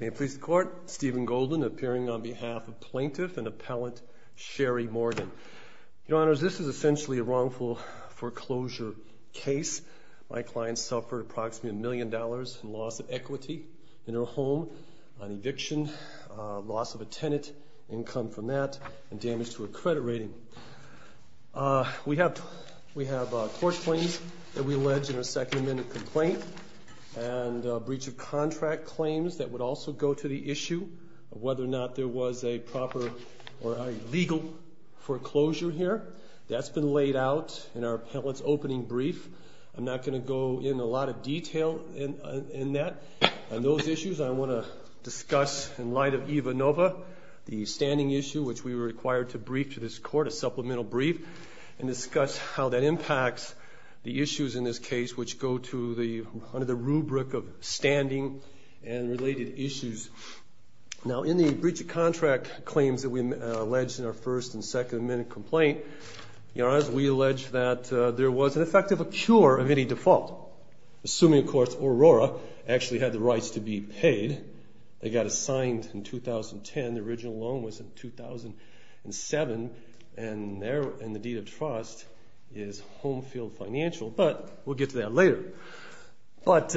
May it please the Court, Stephen Golden appearing on behalf of Plaintiff and Appellant Sherrie Morgan. Your Honors, this is essentially a wrongful foreclosure case. My client suffered approximately a million dollars in loss of equity in her home, an eviction, loss of a tenant, income from that, and damage to her credit rating. We have court claims that we allege in a second amendment complaint, and breach of contract claims that would also go to the issue of whether or not there was a proper or a legal foreclosure here. That's been laid out in our appellant's opening brief. I'm not going to go into a lot of detail in that. On those issues, I want to discuss in light of EVA Nova, the standing issue which we were required to brief to this Court, a supplemental brief, and discuss how that impacts the issues in this case, which go under the rubric of standing and related issues. Now in the breach of contract claims that we allege in our first and second amendment complaint, Your Honors, we allege that there was in effect a cure of any default, assuming, of course, Aurora actually had the rights to be paid. They got assigned in 2010. The original loan was in 2007, and the deed of trust is Homefield Financial, but we'll get to that later. But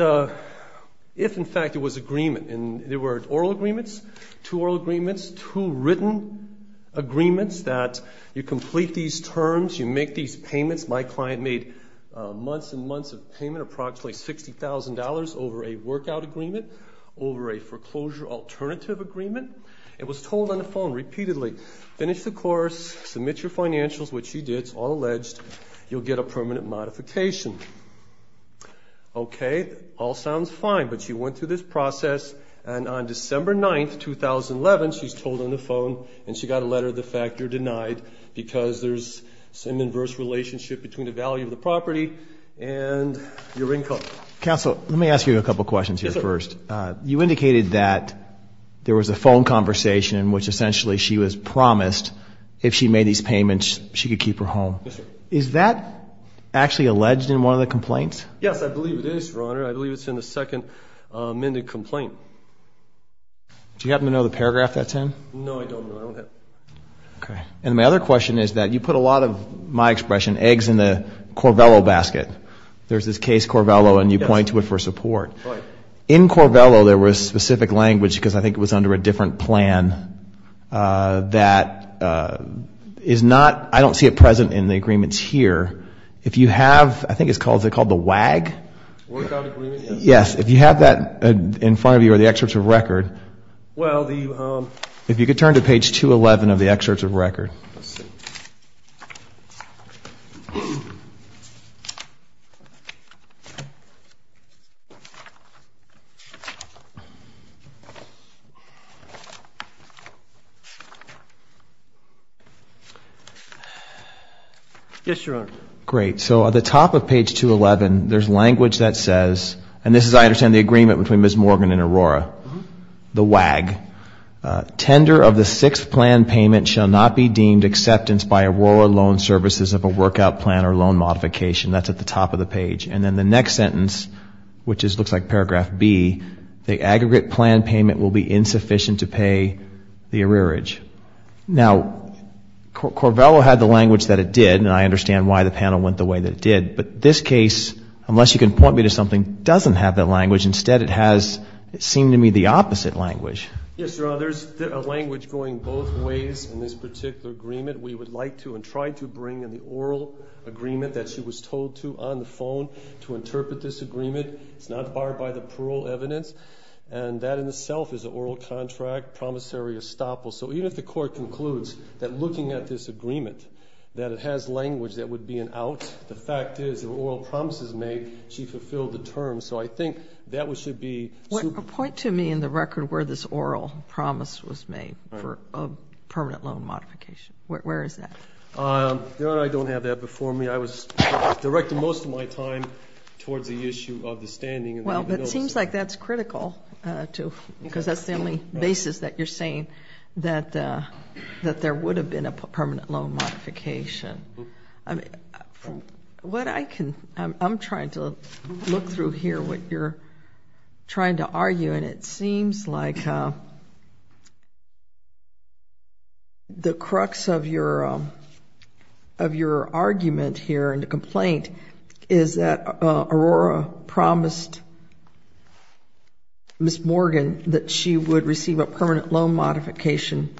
if, in fact, there was agreement, and there were oral agreements, two oral agreements, two written agreements that you complete these terms, you make these payments. My client made months and months of payment, approximately $60,000 over a workout agreement, over a foreclosure alternative agreement, and was told on the phone repeatedly, finish the course, submit your financials, which she did. It's all alleged. You'll get a permanent modification. Okay. All sounds fine, but she went through this process, and on December 9, 2011, she's told on the phone, and she got a letter of the fact you're denied because there's an inverse relationship between the value of the property and your income. Counsel, let me ask you a couple questions here first. Yes, sir. You indicated that there was a phone conversation in which essentially she was promised if she made these payments, she could keep her home. Yes, sir. Is that actually alleged in one of the complaints? Yes, I believe it is, Your Honor. I believe it's in the second amendment complaint. Do you happen to know the paragraph that's in? No, I don't know. I don't have it. Okay. And my other question is that you put a lot of, my expression, eggs in the Corvello basket. There's this case, Corvello, and you point to it for support. Right. In Corvello, there was specific language, because I think it was under a different plan, that is not, I don't see it present in the agreements here. If you have, I think it's called, is it called the WAG? Workout agreement, yes. Yes, if you have that in front of you, or the excerpts of record. Well, the... If you could turn to page 211 of the excerpts of record. Let's see. Yes, Your Honor. Great. So at the top of page 211, there's language that says, and this is, I understand, the agreement between Ms. Morgan and Aurora, the WAG. Tender of the sixth plan payment shall not be deemed acceptance by Aurora Loan Services of a workout plan or loan modification. That's at the top of the page. And then the next sentence, which looks like paragraph B, the aggregate plan payment will be insufficient to pay the arrearage. Now, Corvello had the language that it did, and I understand why the panel went the way that it did. But this case, unless you can point me to something, doesn't have that language. Instead, it has, it seemed to me, the opposite language. Yes, Your Honor. There's a language going both ways in this particular agreement. We would like to and try to bring in the oral agreement that she was told to on the phone to interpret this agreement. It's not barred by the parole evidence. And that in itself is an oral contract, promissory estoppel. So even if the Court concludes that looking at this agreement, that it has language that would be an out, the fact is the oral promises made, she fulfilled the terms. So I think that should be. Point to me in the record where this oral promise was made for a permanent loan modification. Where is that? Your Honor, I don't have that before me. I was directing most of my time towards the issue of the standing. Well, but it seems like that's critical, too, because that's the only basis that you're saying, that there would have been a permanent loan modification. What I can, I'm trying to look through here what you're trying to argue, and it seems like the crux of your argument here and the complaint is that Aurora promised Miss Morgan that she would receive a permanent loan modification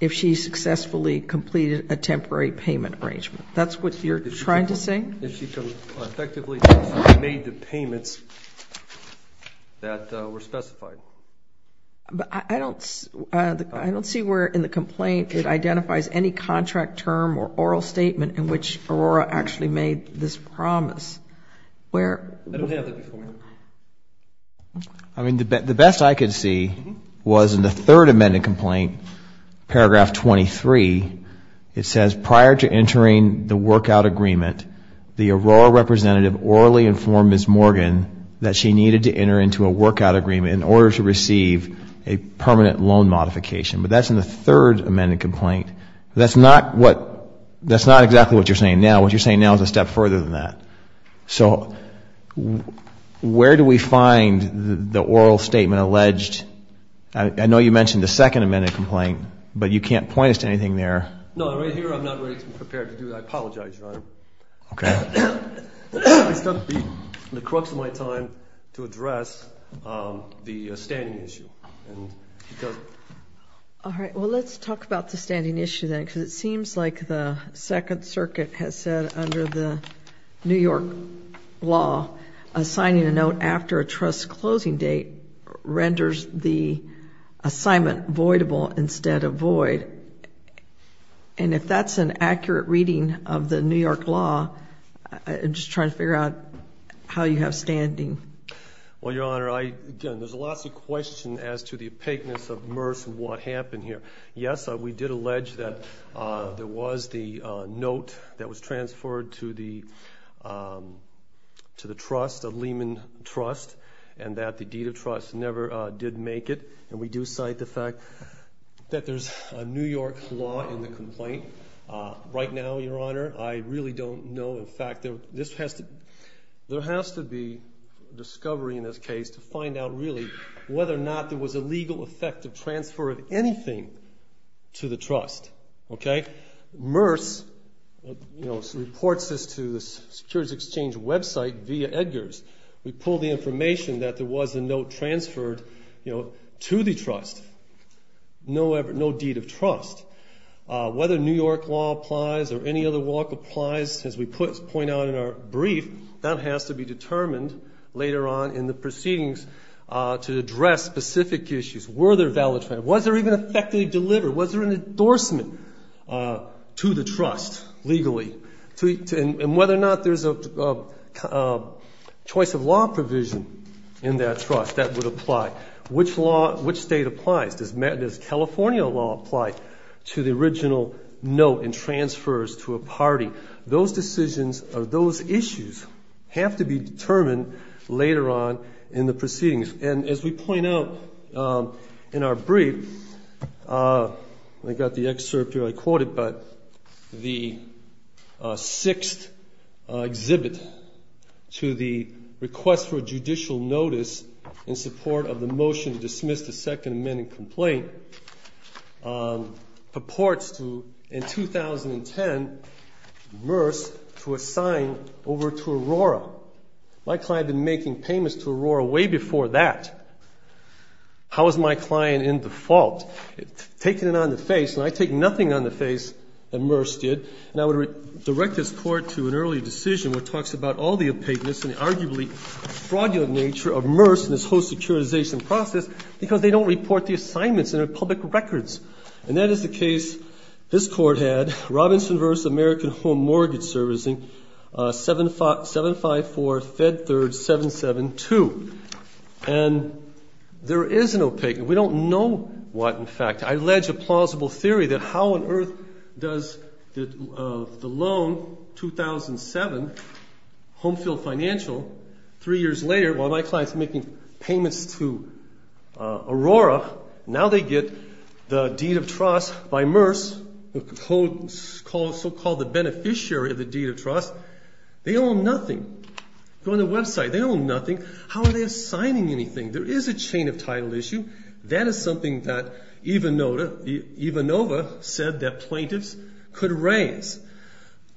if she successfully completed a temporary payment arrangement. That's what you're trying to say? If she effectively made the payments that were specified. But I don't see where in the complaint it identifies any contract term or oral statement in which Aurora actually made this promise. I don't have that before me. I mean, the best I could see was in the third amended complaint, paragraph 23, it says prior to entering the workout agreement, the Aurora representative orally informed Miss Morgan that she needed to enter into a workout agreement in order to receive a permanent loan modification. But that's in the third amended complaint. That's not exactly what you're saying now. What you're saying now is a step further than that. So where do we find the oral statement alleged? I know you mentioned the second amended complaint, but you can't point us to anything there. No, right here I'm not ready to prepare to do that. I apologize, Your Honor. Okay. It's going to be in the crux of my time to address the standing issue. All right, well, let's talk about the standing issue then, because it seems like the Second Circuit has said under the New York law, assigning a note after a trust's closing date renders the assignment voidable instead of void. And if that's an accurate reading of the New York law, I'm just trying to figure out how you have standing. Well, Your Honor, again, there's lots of questions as to the opaqueness of MERS and what happened here. Yes, we did allege that there was the note that was transferred to the trust, a Lehman trust, and that the deed of trust never did make it. And we do cite the fact that there's a New York law in the complaint. Right now, Your Honor, I really don't know. There has to be discovery in this case to find out really whether or not there was a legal effect of transfer of anything to the trust. Okay? MERS reports this to the Securities Exchange website via Edgars. We pull the information that there was a note transferred to the trust. No deed of trust. Whether New York law applies or any other walk applies, as we point out in our brief, that has to be determined later on in the proceedings to address specific issues. Were there valid funds? Was there even effectively delivered? Was there an endorsement to the trust legally? And whether or not there's a choice of law provision in that trust, that would apply. Which state applies? Does California law apply to the original note and transfers to a party? Those decisions or those issues have to be determined later on in the proceedings. And as we point out in our brief, I got the excerpt here. I didn't quote it, but the sixth exhibit to the request for judicial notice in support of the motion to dismiss the Second Amendment complaint purports to, in 2010, MERS to assign over to Aurora. My client had been making payments to Aurora way before that. How is my client in the fault? Taking it on the face. And I take nothing on the face that MERS did. And I would direct this Court to an early decision that talks about all the opaqueness and arguably fraudulent nature of MERS and its whole securitization process because they don't report the assignments in their public records. And that is the case this Court had, Robinson v. American Home Mortgage Servicing, 754-Fed 3rd-772. And there is an opaqueness. And we don't know what, in fact. I allege a plausible theory that how on earth does the loan, 2007, Home Field Financial, three years later, while my client's making payments to Aurora, now they get the deed of trust by MERS, the so-called beneficiary of the deed of trust. They own nothing. Go on the website. They own nothing. How are they assigning anything? There is a chain of title issue. That is something that Ivanova said that plaintiffs could raise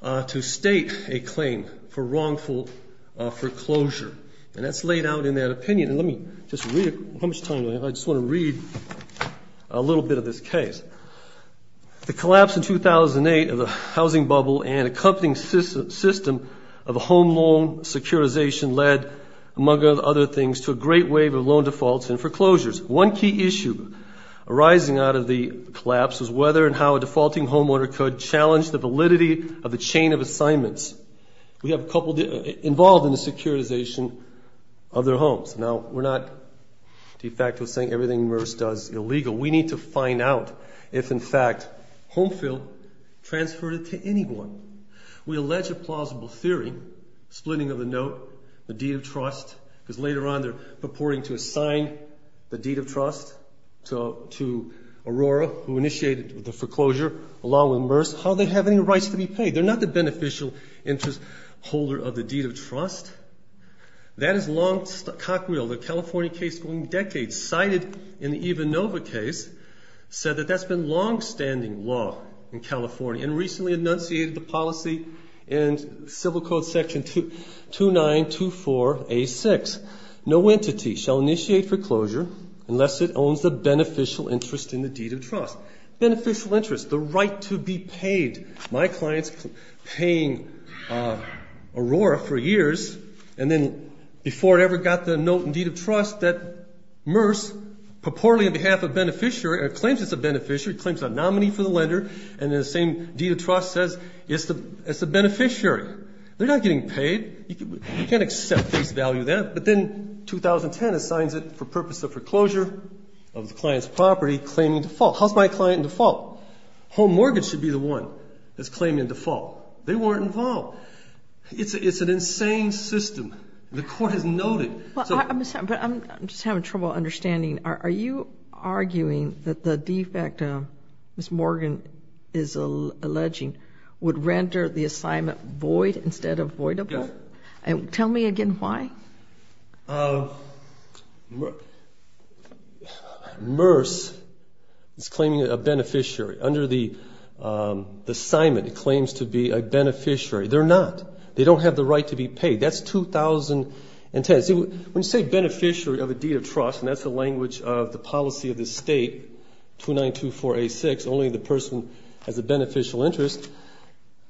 to state a claim for wrongful foreclosure. And that's laid out in that opinion. And let me just read it. How much time do I have? I just want to read a little bit of this case. The collapse in 2008 of the housing bubble and accompanying system of a home loan securitization led, among other things, to a great wave of loan defaults and foreclosures. One key issue arising out of the collapse was whether and how a defaulting homeowner could challenge the validity of a chain of assignments. We have a couple involved in the securitization of their homes. Now, we're not de facto saying everything MERS does is illegal. We need to find out if, in fact, Homefill transferred it to anyone. We allege a plausible theory, splitting of the note, the deed of trust, because later on they're purporting to assign the deed of trust to Aurora, who initiated the foreclosure, along with MERS, how they have any rights to be paid. They're not the beneficial interest holder of the deed of trust. That is long cocked wheel. The California case going decades, cited in the Ivanova case, said that that's been longstanding law in California and recently enunciated the policy in Civil Code section 2924A6. No entity shall initiate foreclosure unless it owns the beneficial interest in the deed of trust. Beneficial interest, the right to be paid. My client's paying Aurora for years, and then before it ever got the note and deed of trust, that MERS purportedly, on behalf of a beneficiary, claims it's a beneficiary, claims a nominee for the lender, and then the same deed of trust says it's a beneficiary. They're not getting paid. You can't accept this value then, but then 2010 assigns it for purpose of foreclosure of the client's property, claiming default. How's my client in default? Home mortgage should be the one that's claiming default. They weren't involved. It's an insane system. The court has noted. But I'm just having trouble understanding. Are you arguing that the defect Ms. Morgan is alleging would render the assignment void instead of voidable? Tell me again why. MERS is claiming a beneficiary. Under the assignment, it claims to be a beneficiary. They're not. They don't have the right to be paid. That's 2010. When you say beneficiary of a deed of trust, and that's the language of the policy of the state, 2924A6, only the person has a beneficial interest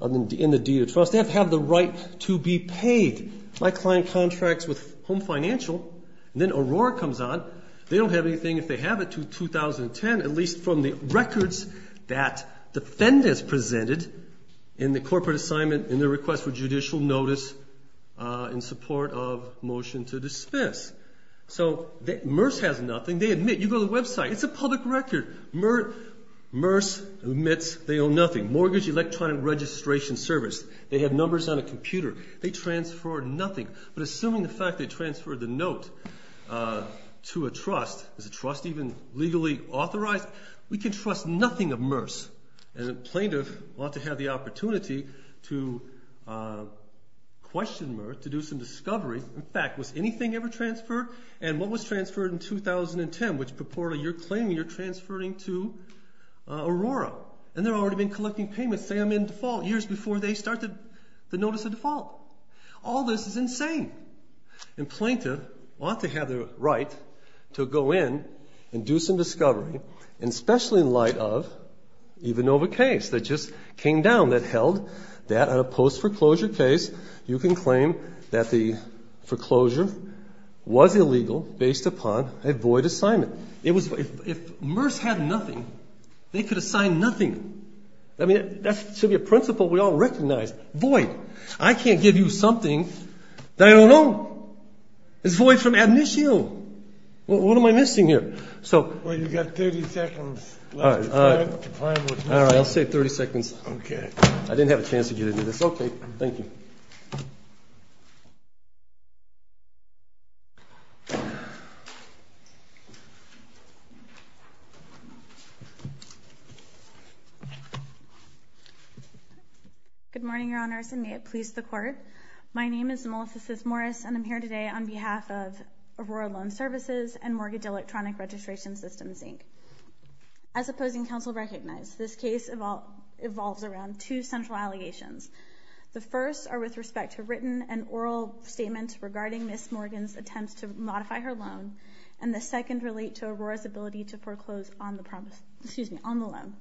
in the deed of trust. They have to have the right to be paid. My client contracts with Home Financial, and then Aurora comes on. They don't have anything. If they have it to 2010, at least from the records that defendants presented in the corporate assignment in their request for judicial notice in support of motion to dismiss. So MERS has nothing. They admit. You go to the website. It's a public record. MERS admits they own nothing. Mortgage electronic registration service. They have numbers on a computer. They transfer nothing. But assuming the fact they transferred the note to a trust, is a trust even legally authorized? We can trust nothing of MERS. And a plaintiff ought to have the opportunity to question MERS, to do some discovery. In fact, was anything ever transferred? And what was transferred in 2010, which purportedly you're claiming you're transferring to Aurora? And they've already been collecting payments. Say I'm in default. Years before they started the notice of default. All this is insane. And plaintiff ought to have the right to go in and do some discovery, and especially in light of Ivanova case that just came down, that held that on a post-foreclosure case, you can claim that the foreclosure was illegal based upon a void assignment. If MERS had nothing, they could assign nothing. I mean, that should be a principle we all recognize. Void. I can't give you something that I don't know. It's void from admissio. What am I missing here? Well, you've got 30 seconds left. All right. I'll say 30 seconds. Okay. I didn't have a chance to get into this. Okay. Thank you. Good morning, Your Honors, and may it please the Court. My name is Melissa Smith Morris, and I'm here today on behalf of Aurora Loan Services and Mortgage Electronic Registration Systems, Inc. As opposing counsel recognized, this case evolves around two central allegations. The first are with respect to written and oral statements regarding Ms. Morgan's attempts to modify her loan, and the second relate to Aurora's ability to foreclose on the loan.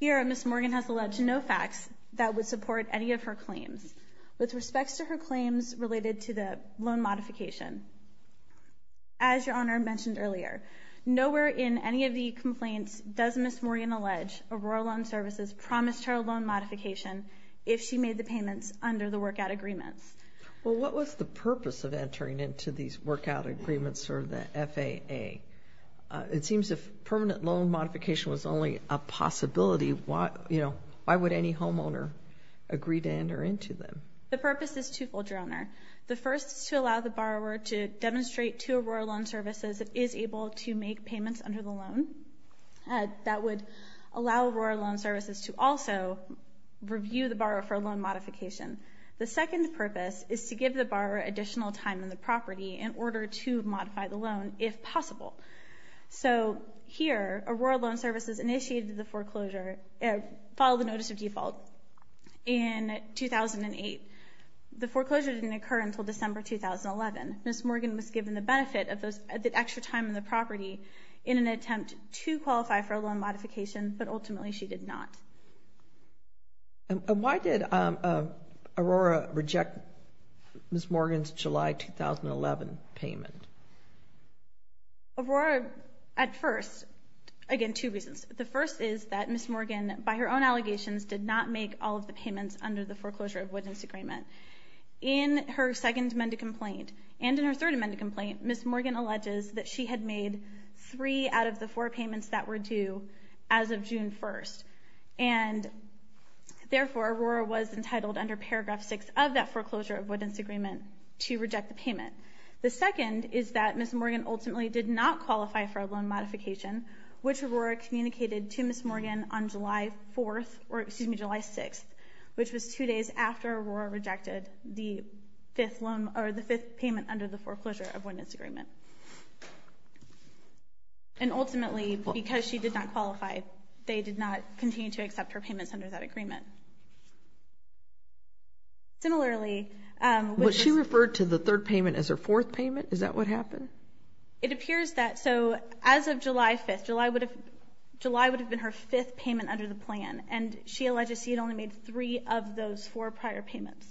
Here, Ms. Morgan has alleged no facts that would support any of her claims. With respect to her claims related to the loan modification, as Your Honor mentioned earlier, nowhere in any of the complaints does Ms. Morgan allege Aurora Loan Services promised her a loan modification if she made the payments under the workout agreements. Well, what was the purpose of entering into these workout agreements or the FAA? It seems if permanent loan modification was only a possibility, why would any homeowner agree to enter into them? The purpose is twofold, Your Honor. The first is to allow the borrower to demonstrate to Aurora Loan Services that it is able to make payments under the loan. That would allow Aurora Loan Services to also review the borrower for a loan modification. The second purpose is to give the borrower additional time on the property in order to modify the loan, if possible. So here, Aurora Loan Services initiated the foreclosure, followed the notice of default in 2008. The foreclosure didn't occur until December 2011. Ms. Morgan was given the benefit of the extra time on the property in an attempt to qualify for a loan modification, but ultimately she did not. And why did Aurora reject Ms. Morgan's July 2011 payment? Aurora, at first, again, two reasons. The first is that Ms. Morgan, by her own allegations, did not make all of the payments under the foreclosure of witness agreement. In her second amended complaint and in her third amended complaint, Ms. Morgan alleges that she had made three out of the four payments that were due as of June 1st. And therefore, Aurora was entitled under Paragraph 6 of that foreclosure of witness agreement to reject the payment. The second is that Ms. Morgan ultimately did not qualify for a loan modification, which Aurora communicated to Ms. Morgan on July 4th, or excuse me, July 6th, which was two days after Aurora rejected the fifth payment under the foreclosure of witness agreement. And ultimately, because she did not qualify, they did not continue to accept her payments under that agreement. Similarly, which is... Was she referred to the third payment as her fourth payment? Is that what happened? It appears that. So as of July 5th, July would have been her fifth payment under the plan, and she alleges she had only made three of those four prior payments.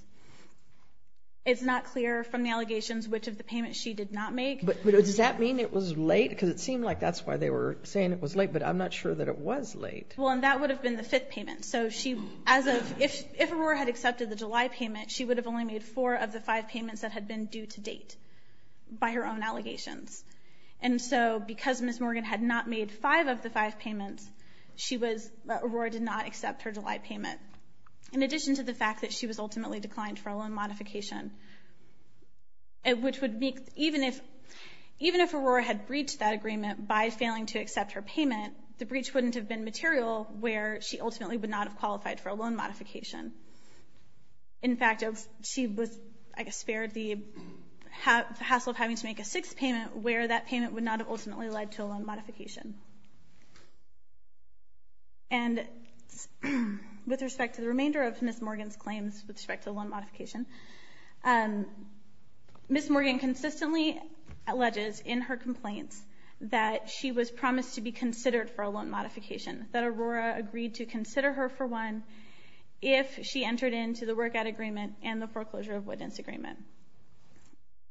It's not clear from the allegations which of the payments she did not make. But does that mean it was late? Because it seemed like that's why they were saying it was late, but I'm not sure that it was late. Well, and that would have been the fifth payment. So if Aurora had accepted the July payment, she would have only made four of the five payments that had been due to date by her own allegations. And so because Ms. Morgan had not made five of the five payments, Aurora did not accept her July payment. In addition to the fact that she was ultimately declined for a loan modification, which would make... Even if Aurora had breached that agreement by failing to accept her payment, the breach wouldn't have been material where she ultimately would not have qualified for a loan modification. In fact, she was, I guess, spared the hassle of having to make a sixth payment where that payment would not have ultimately led to a loan modification. And with respect to the remainder of Ms. Morgan's claims with respect to the loan modification, Ms. Morgan consistently alleges in her complaints that she was promised to be considered for a loan modification, that Aurora agreed to consider her for one if she entered into the workout agreement and the foreclosure of witness agreement.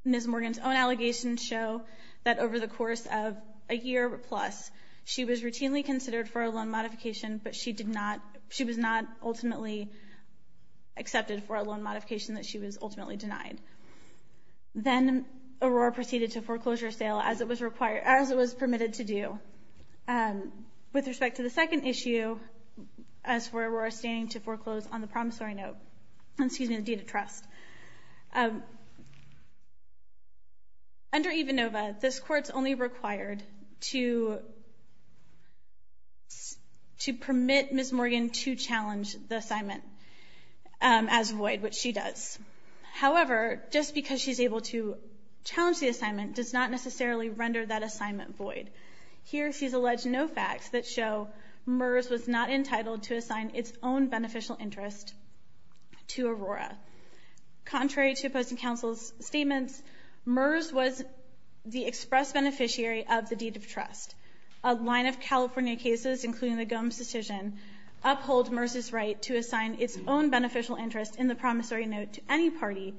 Ms. Morgan's own allegations show that over the course of a year plus, she was routinely considered for a loan modification, but she was not ultimately accepted for a loan modification that she was ultimately denied. Then Aurora proceeded to foreclosure sale as it was permitted to do. With respect to the second issue, as for Aurora standing to foreclose on the promissory note, excuse me, the deed of trust, under EVANOVA, this court's only required to permit Ms. Morgan to challenge the assignment as void, which she does. However, just because she's able to challenge the assignment does not necessarily render that assignment void. Here she's alleged no facts that show MERS was not entitled to assign its own beneficial interest to Aurora. Contrary to opposing counsel's statements, MERS was the express beneficiary of the deed of trust. A line of California cases, including the Gomes decision, uphold MERS' right to assign its own beneficial interest in the promissory note to any party.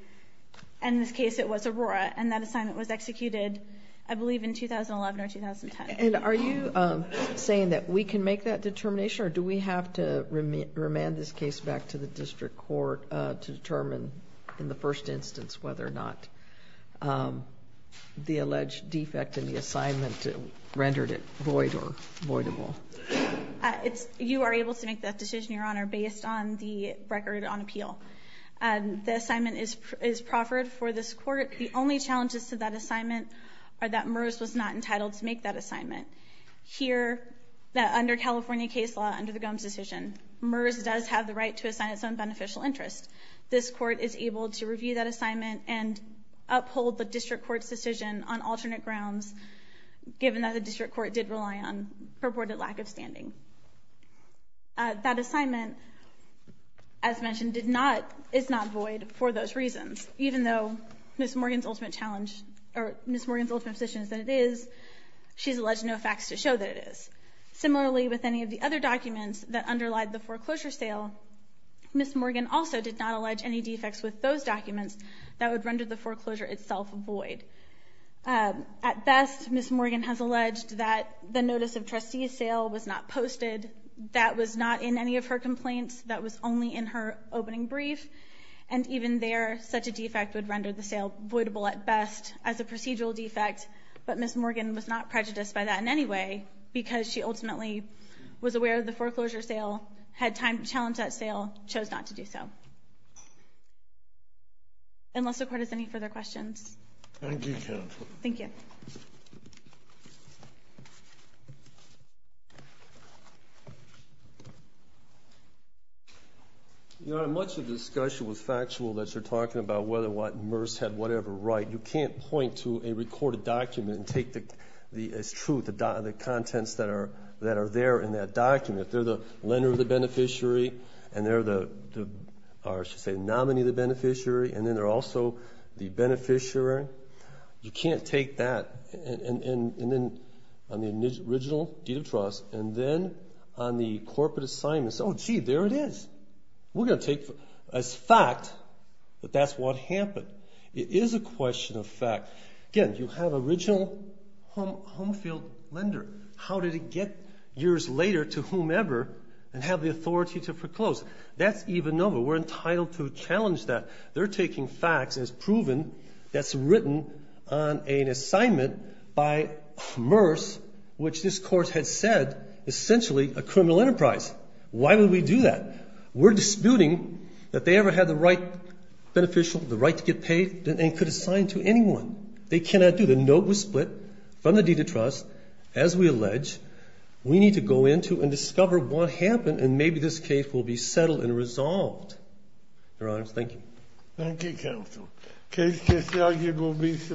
In this case, it was Aurora, and that assignment was executed, I believe, in 2011 or 2010. Are you saying that we can make that determination, or do we have to remand this case back to the district court to determine, in the first instance, whether or not the alleged defect in the assignment rendered it void or voidable? You are able to make that decision, Your Honor, based on the record on appeal. The assignment is proffered for this court. The only challenges to that assignment are that MERS was not entitled to make that assignment. Here, under California case law, under the Gomes decision, MERS does have the right to assign its own beneficial interest. This court is able to review that assignment and uphold the district court's decision on alternate grounds, given that the district court did rely on purported lack of standing. That assignment, as mentioned, is not void for those reasons. Even though Ms. Morgan's ultimate position is that it is, she has alleged no facts to show that it is. Similarly, with any of the other documents that underlie the foreclosure sale, Ms. Morgan also did not allege any defects with those documents that would render the foreclosure itself void. At best, Ms. Morgan has alleged that the notice of trustee sale was not posted, that was not in any of her complaints, that was only in her opening brief, and even there, such a defect would render the sale voidable at best as a procedural defect, but Ms. Morgan was not prejudiced by that in any way, because she ultimately was aware of the foreclosure sale, had time to challenge that sale, chose not to do so. Unless the court has any further questions. Thank you, counsel. Thank you. Thank you. Your Honor, much of the discussion was factual that you're talking about whether or what MERS had whatever right. You can't point to a recorded document and take the, it's true, the contents that are there in that document. They're the lender of the beneficiary, and they're the, or I should say, nominee of the beneficiary, and then they're also the beneficiary. You can't take that, and then on the original deed of trust, and then on the corporate assignments. Oh, gee, there it is. We're going to take as fact that that's what happened. It is a question of fact. Again, you have original home field lender. How did it get years later to whomever and have the authority to foreclose? That's even over. We're entitled to challenge that. They're taking facts as proven that's written on an assignment by MERS, which this court had said essentially a criminal enterprise. Why would we do that? We're disputing that they ever had the right beneficial, the right to get paid, and could assign to anyone. They cannot do that. The note was split from the deed of trust. As we allege, we need to go into and discover what happened, and maybe this case will be settled and resolved. Your Honor, thank you. Thank you, counsel. Case disargued will be submitted.